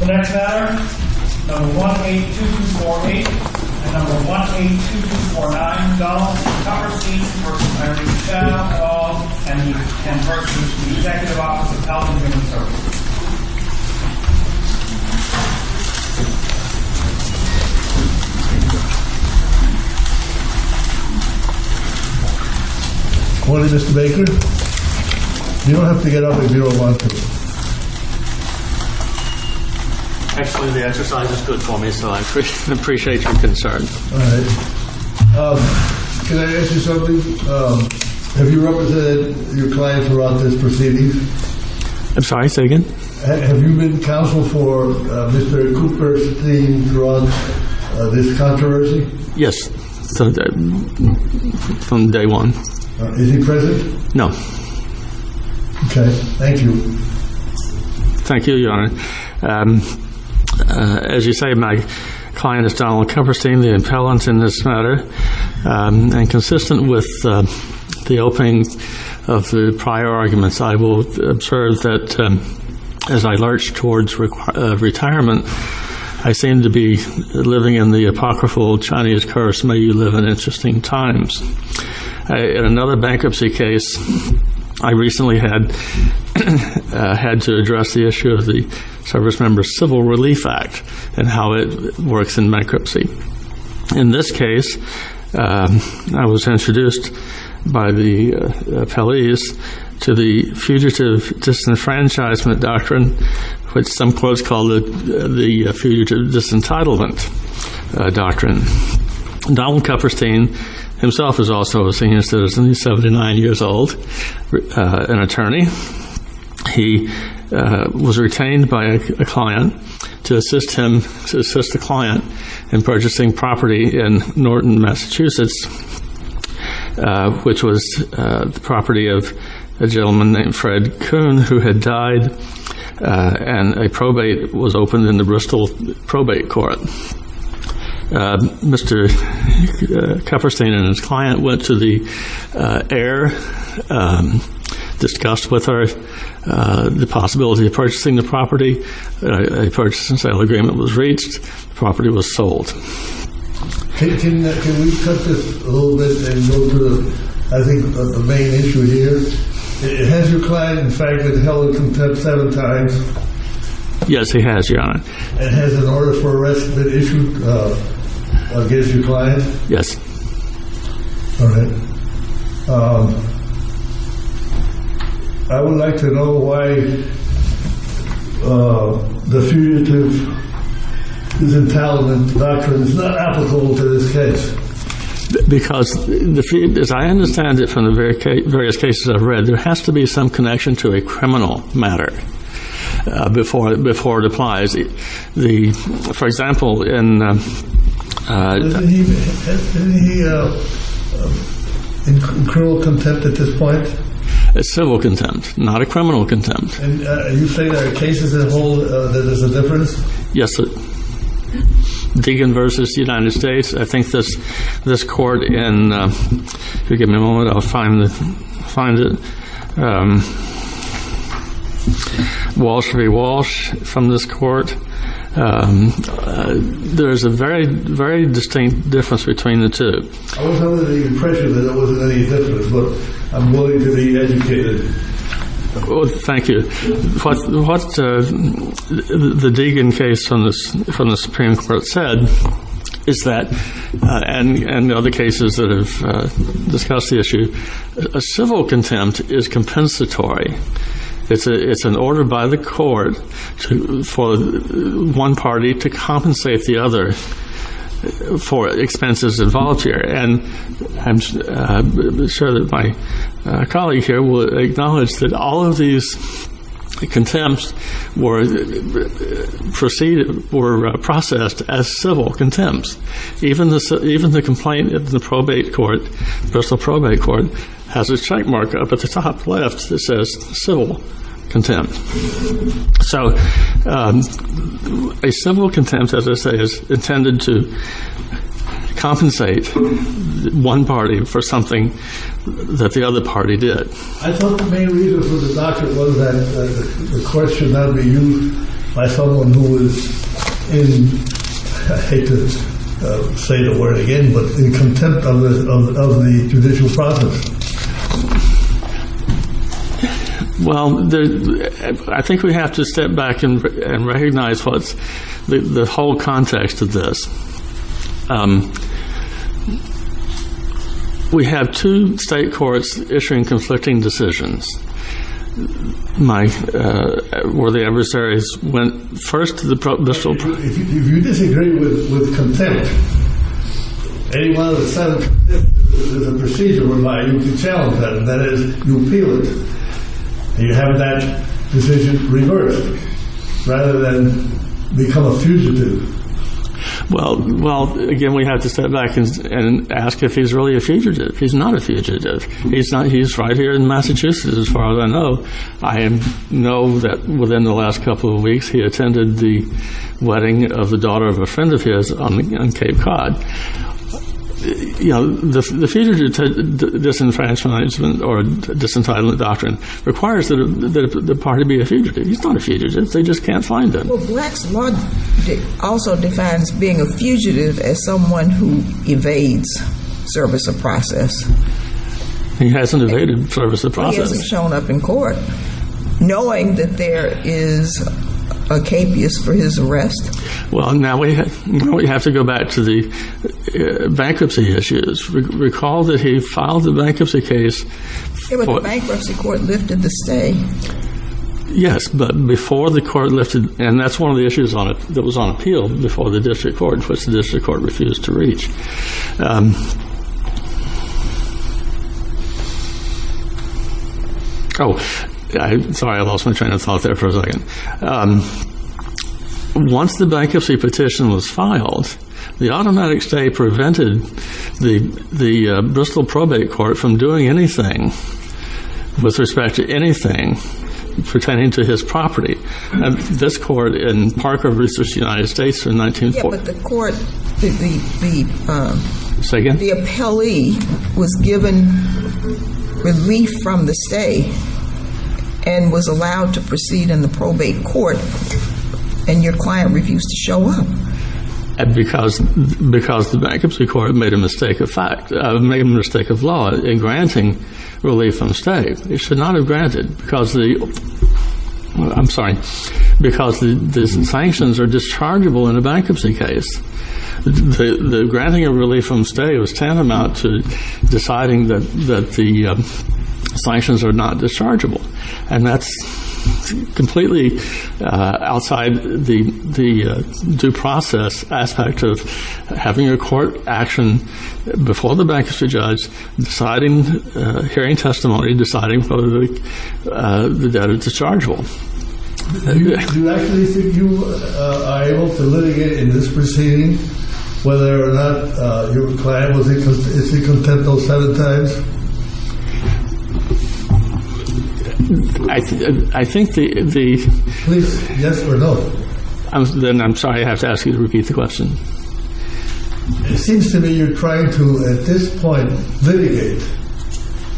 The next matter, number 182248 and number 182249, Donald C. Kupperstein v. Larry Schall, all ten persons from the Executive Office of Health and Human Services. Good morning, Mr. Baker. You don't have to get up if you don't want to. Actually, the exercise is good for me, so I appreciate your concern. All right. Can I ask you something? Have you represented your client throughout this proceeding? I'm sorry, say again? Have you been counsel for Mr. Kupperstein throughout this controversy? Yes, from day one. Is he present? No. Okay, thank you. Thank you, Your Honor. As you say, my client is Donald Kupperstein, the appellant in this matter. And consistent with the opening of the prior arguments, I will observe that as I lurch towards retirement, I seem to be living in the apocryphal Chinese curse, may you live in interesting times. In another bankruptcy case, I recently had to address the issue of the Servicemember's Civil Relief Act and how it works in bankruptcy. In this case, I was introduced by the appellees to the Fugitive Disenfranchisement Doctrine, which some quotes call the Fugitive Disentitlement Doctrine. Donald Kupperstein himself is also a senior citizen. He's 79 years old, an attorney. He was retained by a client to assist the client in purchasing property in Norton, Massachusetts, which was the property of a gentleman named Fred Kuhn who had died, and a probate was opened in the Bristol Probate Court. Mr. Kupperstein and his client went to the air, discussed with her the possibility of purchasing the property. A purchase and sale agreement was reached. The property was sold. Can we cut this a little bit and go to, I think, a main issue here? Has your client, in fact, been held in contempt seven times? Yes, he has, Your Honor. And has an order for arrest been issued against your client? Yes. All right. I would like to know why the Fugitive Disentitlement Doctrine is not applicable to this case. Because, as I understand it from the various cases I've read, there has to be some connection to a criminal matter before it applies. For example, in- Isn't he in cruel contempt at this point? It's civil contempt, not a criminal contempt. Are you saying there are cases that hold that there's a difference? Yes. Deegan v. United States. I think this court in- If you'll give me a moment, I'll find it. Walsh v. Walsh from this court. There is a very distinct difference between the two. I was under the impression that there wasn't any difference, but I'm willing to be educated. Thank you. What the Deegan case from the Supreme Court said is that, and other cases that have discussed the issue, civil contempt is compensatory. It's an order by the court for one party to compensate the other for expenses of volunteer. I'm sure that my colleague here will acknowledge that all of these contempts were processed as civil contempt. Even the complaint in the probate court, Bristol Probate Court, has a checkmark up at the top left that says civil contempt. A civil contempt, as I say, is intended to compensate one party for something that the other party did. I thought the main reason for the doctrine was that the court should not be used by someone who is in, I hate to say the word again, but in contempt of the judicial process. Well, I think we have to step back and recognize the whole context of this. We have two state courts issuing conflicting decisions where the adversaries went first to the Bristol Probate Court. If you disagree with contempt, anyone that says contempt is a procedure whereby you can challenge that, that is, you appeal it, and you have that decision reversed, rather than become a fugitive. Well, again, we have to step back and ask if he's really a fugitive. He's not a fugitive. He's right here in Massachusetts, as far as I know. I know that within the last couple of weeks, he attended the wedding of the daughter of a friend of his on Cape Cod. The fugitive disenfranchisement or disentitlement doctrine requires that the party be a fugitive. He's not a fugitive. They just can't find him. Well, Black's law also defines being a fugitive as someone who evades service of process. He hasn't evaded service of process. He hasn't shown up in court, knowing that there is a capeus for his arrest. Well, now we have to go back to the bankruptcy issues. Recall that he filed the bankruptcy case. The bankruptcy court lifted the stay. Yes, but before the court lifted, and that's one of the issues that was on appeal before the district court, which the district court refused to reach. Oh, sorry, I lost my train of thought there for a second. Once the bankruptcy petition was filed, the automatic stay prevented the Bristol probate court from doing anything, with respect to anything pertaining to his property. This court in Parker v. United States in 1940. Yes, but the court, the appellee was given relief from the stay and was allowed to proceed in the probate court, and your client refused to show up. Because the bankruptcy court made a mistake of fact, made a mistake of law in granting relief from stay. It should not have granted, because the sanctions are dischargeable in a bankruptcy case. The granting of relief from stay was tantamount to deciding that the sanctions are not dischargeable, and that's completely outside the due process aspect of having a court action before the bankruptcy judge, deciding, hearing testimony, deciding whether the debt is dischargeable. Do you actually think you are able to litigate in this proceeding, whether or not your client is content those seven times? I think the... Please, yes or no. Then I'm sorry I have to ask you to repeat the question. It seems to me you're trying to, at this point, litigate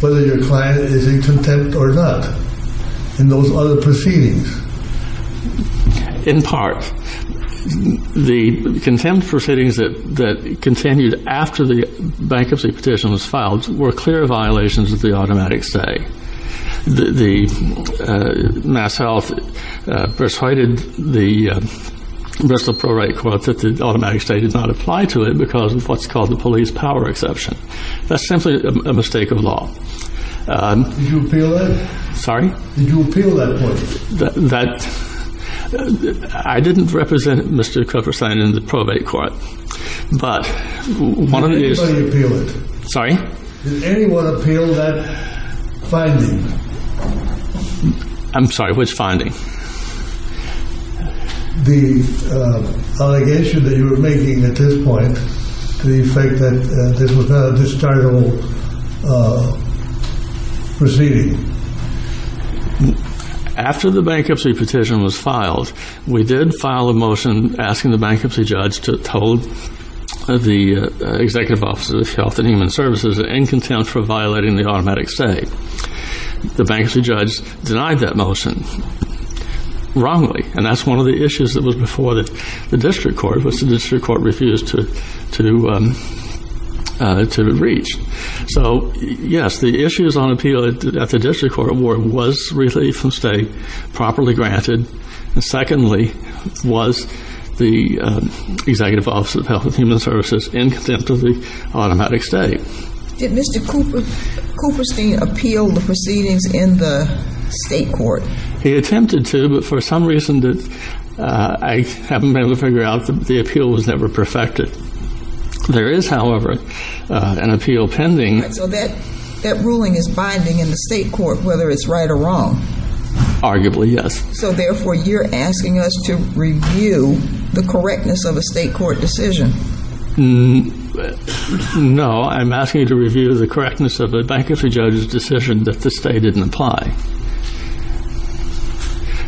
whether your client is in contempt or not in those other proceedings. In part. The contempt proceedings that continued after the bankruptcy petition was filed were clear violations of the automatic stay. The MassHealth persuaded the Bristol Probate Court that the automatic stay did not apply to it because of what's called the police power exception. That's simply a mistake of law. Did you appeal that? Sorry? Did you appeal that point? I didn't represent Mr. Kupferstein in the probate court, but... Did anybody appeal it? Sorry? Did anyone appeal that finding? I'm sorry, which finding? The allegation that you were making at this point, the fact that this was not a dischargeable proceeding. After the bankruptcy petition was filed, we did file a motion asking the bankruptcy judge to told the Executive Office of Health and Human Services in contempt for violating the automatic stay. The bankruptcy judge denied that motion wrongly, and that's one of the issues that was before the district court, which the district court refused to reach. So, yes, the issues on appeal at the district court were, was relief from state, properly granted, and secondly, was the Executive Office of Health and Human Services in contempt of the automatic stay. Did Mr. Kupferstein appeal the proceedings in the state court? He attempted to, but for some reason, I haven't been able to figure out, the appeal was never perfected. There is, however, an appeal pending. So that ruling is binding in the state court, whether it's right or wrong? Arguably, yes. So, therefore, you're asking us to review the correctness of a state court decision? No, I'm asking you to review the correctness of a bankruptcy judge's decision that the state didn't apply.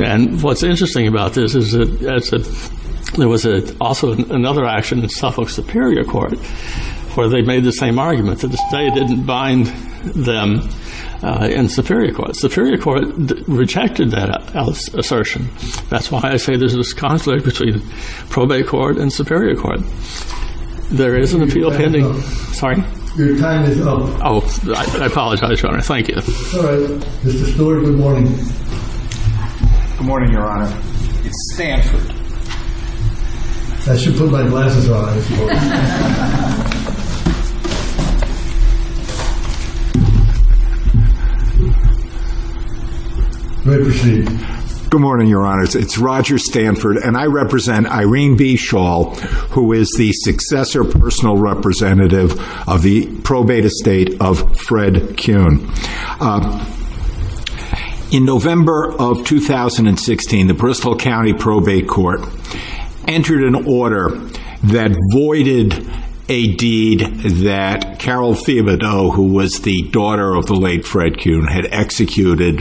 And what's interesting about this is that there was also another action in Suffolk Superior Court where they made the same argument, that the state didn't bind them in Superior Court. Superior Court rejected that assertion. That's why I say there's this conflict between probate court and Superior Court. There is an appeal pending. Your time is up. Sorry? Your time is up. Oh, I apologize, Your Honor, thank you. All right. Mr. Spiller, good morning. Good morning, Your Honor. It's Stanford. I should put my glasses on. You may proceed. Good morning, Your Honors. It's Roger Stanford, and I represent Irene B. Schall, who is the successor personal representative of the probate estate of Fred Kuhn. In November of 2016, the Bristol County Probate Court entered an order that voided a deed that Carol Thiebaudot, who was the daughter of the late Fred Kuhn, had executed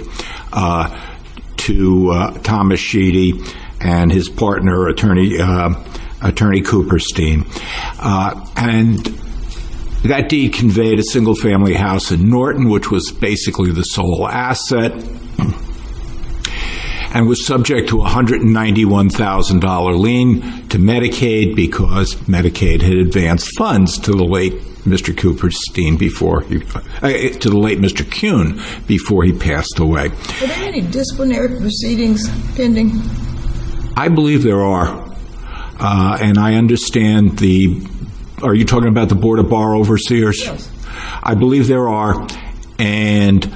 to Thomas Sheedy and his partner, Attorney Cooperstein. And that deed conveyed a single-family house in Norton, which was basically the sole asset, and was subject to a $191,000 lien to Medicaid because Medicaid had advanced funds to the late Mr. Kuhn before he passed away. Are there any disciplinary proceedings pending? I believe there are, and I understand the – are you talking about the Board of Bar Overseers? Yes. I believe there are, and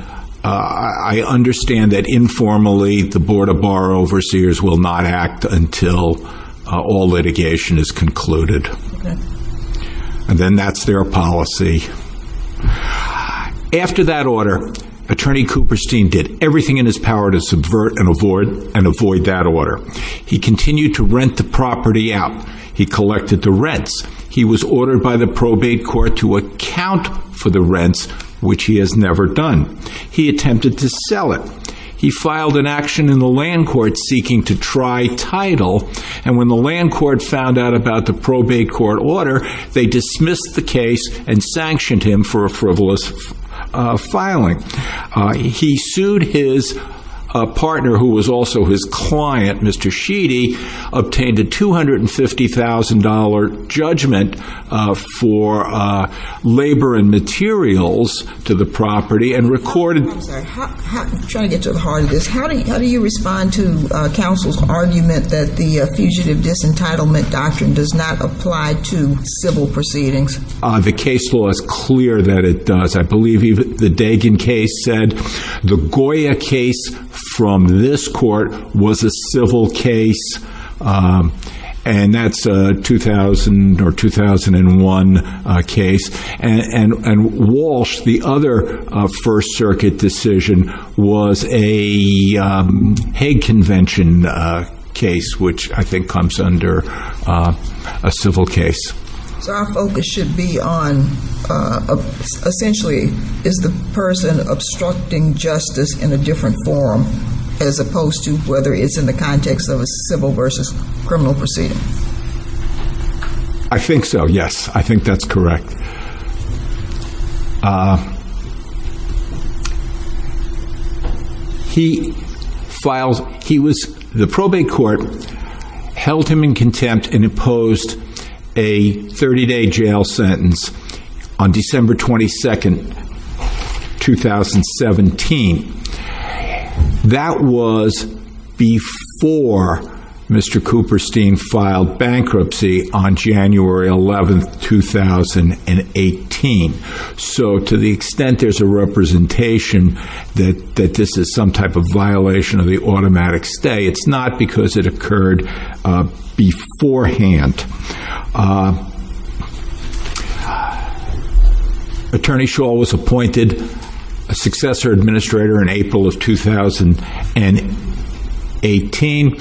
I understand that informally the Board of Bar Overseers will not act until all litigation is concluded. Okay. And then that's their policy. After that order, Attorney Cooperstein did everything in his power to subvert and avoid that order. He continued to rent the property out. He collected the rents. He was ordered by the probate court to account for the rents, which he has never done. He attempted to sell it. He filed an action in the land court seeking to try title, and when the land court found out about the probate court order, they dismissed the case and sanctioned him for a frivolous filing. He sued his partner, who was also his client, Mr. Sheedy, obtained a $250,000 judgment for labor and materials to the property, and recorded – I'm sorry. I'm trying to get to the heart of this. How do you respond to counsel's argument that the Fugitive Disentitlement Doctrine does not apply to civil proceedings? The case law is clear that it does. I believe even the Dagan case said the Goya case from this court was a civil case, and that's a 2000 or 2001 case. And Walsh, the other First Circuit decision, was a Hague Convention case, which I think comes under a civil case. So our focus should be on – essentially, is the person obstructing justice in a different form as opposed to whether it's in the context of a civil versus criminal proceeding? I think so, yes. I think that's correct. He filed – he was – the probate court held him in contempt and imposed a 30-day jail sentence on December 22, 2017. That was before Mr. Cooperstein filed bankruptcy on January 11, 2018. So to the extent there's a representation that this is some type of violation of the automatic stay, it's not because it occurred beforehand. Attorney Shull was appointed a successor administrator in April of 2018.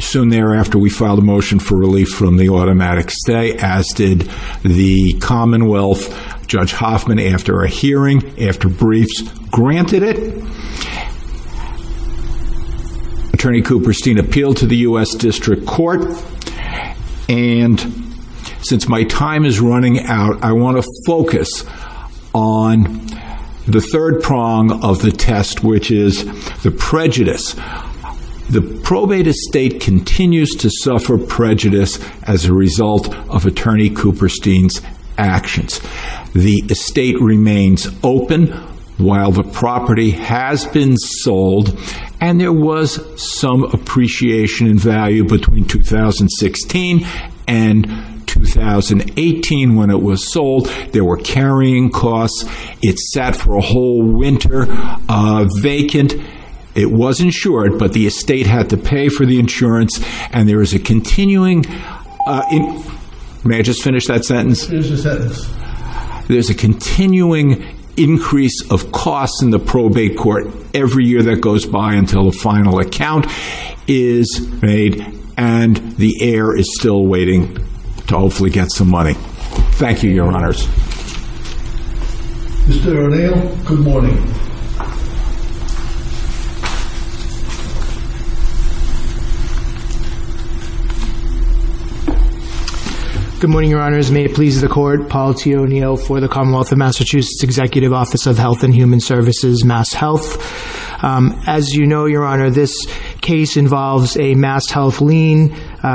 Soon thereafter, we filed a motion for relief from the automatic stay, as did the Commonwealth. Judge Hoffman, after a hearing, after briefs, granted it. Attorney Cooperstein appealed to the U.S. District Court. And since my time is running out, I want to focus on the third prong of the test, which is the prejudice. The probate estate continues to suffer prejudice as a result of Attorney Cooperstein's actions. The estate remains open while the property has been sold. And there was some appreciation in value between 2016 and 2018 when it was sold. There were carrying costs. It sat for a whole winter vacant. It was insured, but the estate had to pay for the insurance. And there is a continuing – may I just finish that sentence? Finish the sentence. There's a continuing increase of costs in the probate court every year that goes by until a final account is made. And the heir is still waiting to hopefully get some money. Thank you, Your Honors. Mr. O'Neill, good morning. Good morning, Your Honors. May it please the Court, Paul T. O'Neill for the Commonwealth of Massachusetts Executive Office of Health and Human Services, MassHealth. As you know, Your Honor, this case involves a MassHealth lien,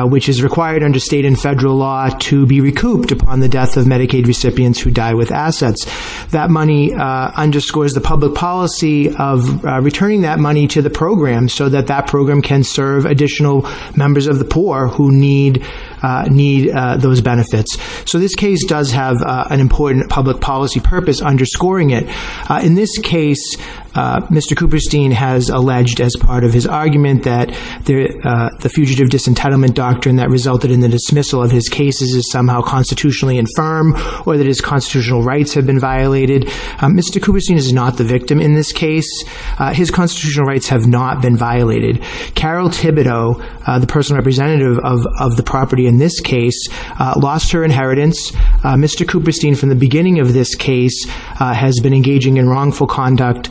which is required under state and federal law to be recouped upon the death of Medicaid recipients who die with assets. That money underscores the public policy of returning that money to the program so that that program can serve additional members of the poor who need those benefits. So this case does have an important public policy purpose underscoring it. In this case, Mr. Cooperstein has alleged as part of his argument that the fugitive disentitlement doctrine that resulted in the dismissal of his cases is somehow constitutionally infirm or that his constitutional rights have been violated. Mr. Cooperstein is not the victim in this case. His constitutional rights have not been violated. Carol Thibodeau, the personal representative of the property in this case, lost her inheritance. Mr. Cooperstein, from the beginning of this case, has been engaging in wrongful conduct.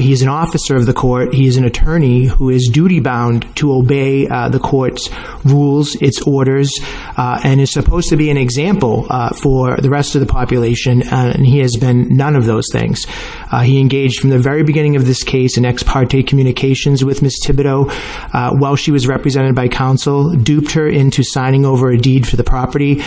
He is an officer of the court. He is an attorney who is duty-bound to obey the court's rules, its orders, and is supposed to be an example for the rest of the population, and he has been none of those things. He engaged from the very beginning of this case in ex parte communications with Ms. Thibodeau while she was represented by counsel, duped her into signing over a deed for the property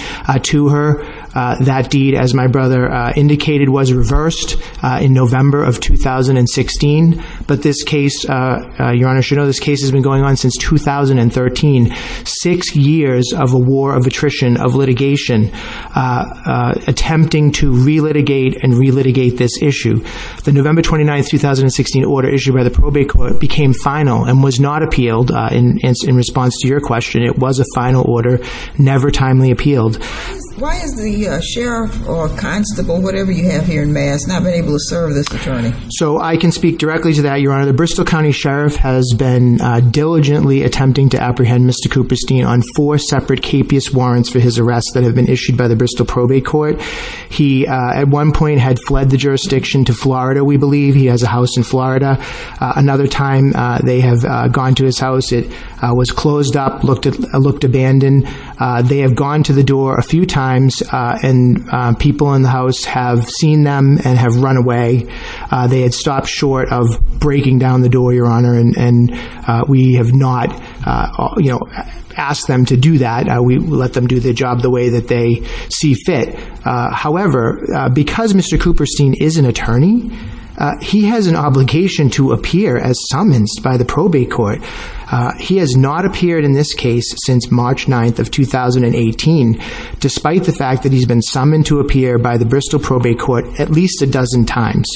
to her. That deed, as my brother indicated, was reversed in November of 2016. But this case, Your Honor, as you know, this case has been going on since 2013, six years of a war of attrition, of litigation, attempting to re-litigate and re-litigate this issue. The November 29, 2016 order issued by the probate court became final and was not appealed. In response to your question, it was a final order, never timely appealed. Why has the sheriff or constable, whatever you have here in Mass, not been able to serve this attorney? So I can speak directly to that, Your Honor. The Bristol County Sheriff has been diligently attempting to apprehend Mr. Cooperstein on four separate capious warrants for his arrest that have been issued by the Bristol Probate Court. He, at one point, had fled the jurisdiction to Florida, we believe. He has a house in Florida. Another time they have gone to his house, it was closed up, looked abandoned. They have gone to the door a few times, and people in the house have seen them and have run away. They had stopped short of breaking down the door, Your Honor, and we have not asked them to do that. We let them do their job the way that they see fit. However, because Mr. Cooperstein is an attorney, he has an obligation to appear as summonsed by the probate court. He has not appeared in this case since March 9, 2018, despite the fact that he has been summoned to appear by the Bristol Probate Court at least a dozen times.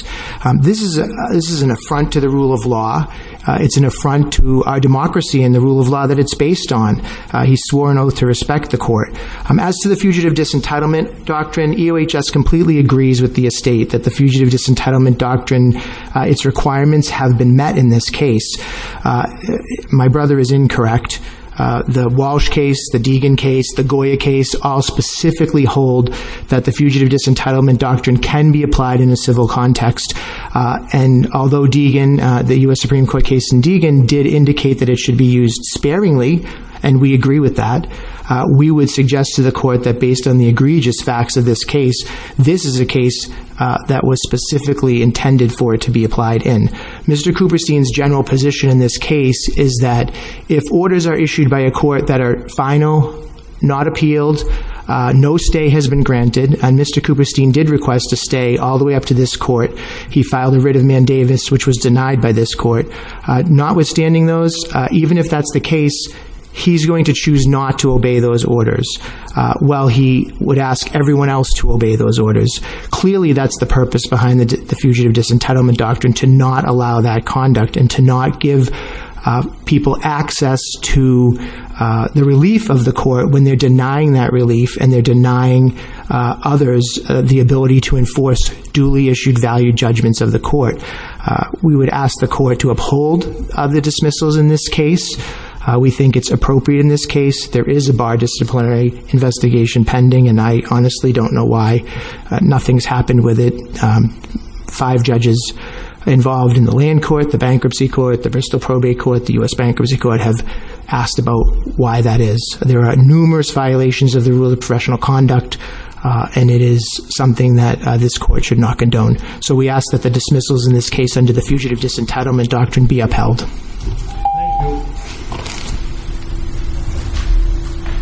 This is an affront to the rule of law. It's an affront to our democracy and the rule of law that it's based on. He swore an oath to respect the court. As to the Fugitive Disentitlement Doctrine, EOHS completely agrees with the estate that the Fugitive Disentitlement Doctrine, its requirements have been met in this case. My brother is incorrect. The Walsh case, the Deegan case, the Goya case, all specifically hold that the Fugitive Disentitlement Doctrine can be applied in a civil context. And although Deegan, the U.S. Supreme Court case in Deegan, did indicate that it should be used sparingly, and we agree with that, we would suggest to the court that based on the egregious facts of this case, this is a case that was specifically intended for it to be applied in. Mr. Cooperstein's general position in this case is that if orders are issued by a court that are final, not appealed, no stay has been granted, and Mr. Cooperstein did request a stay all the way up to this court. He filed a writ of mandamus which was denied by this court. Notwithstanding those, even if that's the case, he's going to choose not to obey those orders while he would ask everyone else to obey those orders. Clearly that's the purpose behind the Fugitive Disentitlement Doctrine, to not allow that conduct and to not give people access to the relief of the court when they're denying that relief and they're denying others the ability to enforce duly issued value judgments of the court. We would ask the court to uphold the dismissals in this case. We think it's appropriate in this case. There is a bar disciplinary investigation pending and I honestly don't know why. Nothing's happened with it. Five judges involved in the land court, the bankruptcy court, the Bristol probate court, the U.S. bankruptcy court have asked about why that is. There are numerous violations of the rule of professional conduct and it is something that this court should not condone. So we ask that the dismissals in this case under the Fugitive Disentitlement Doctrine be upheld. Thank you.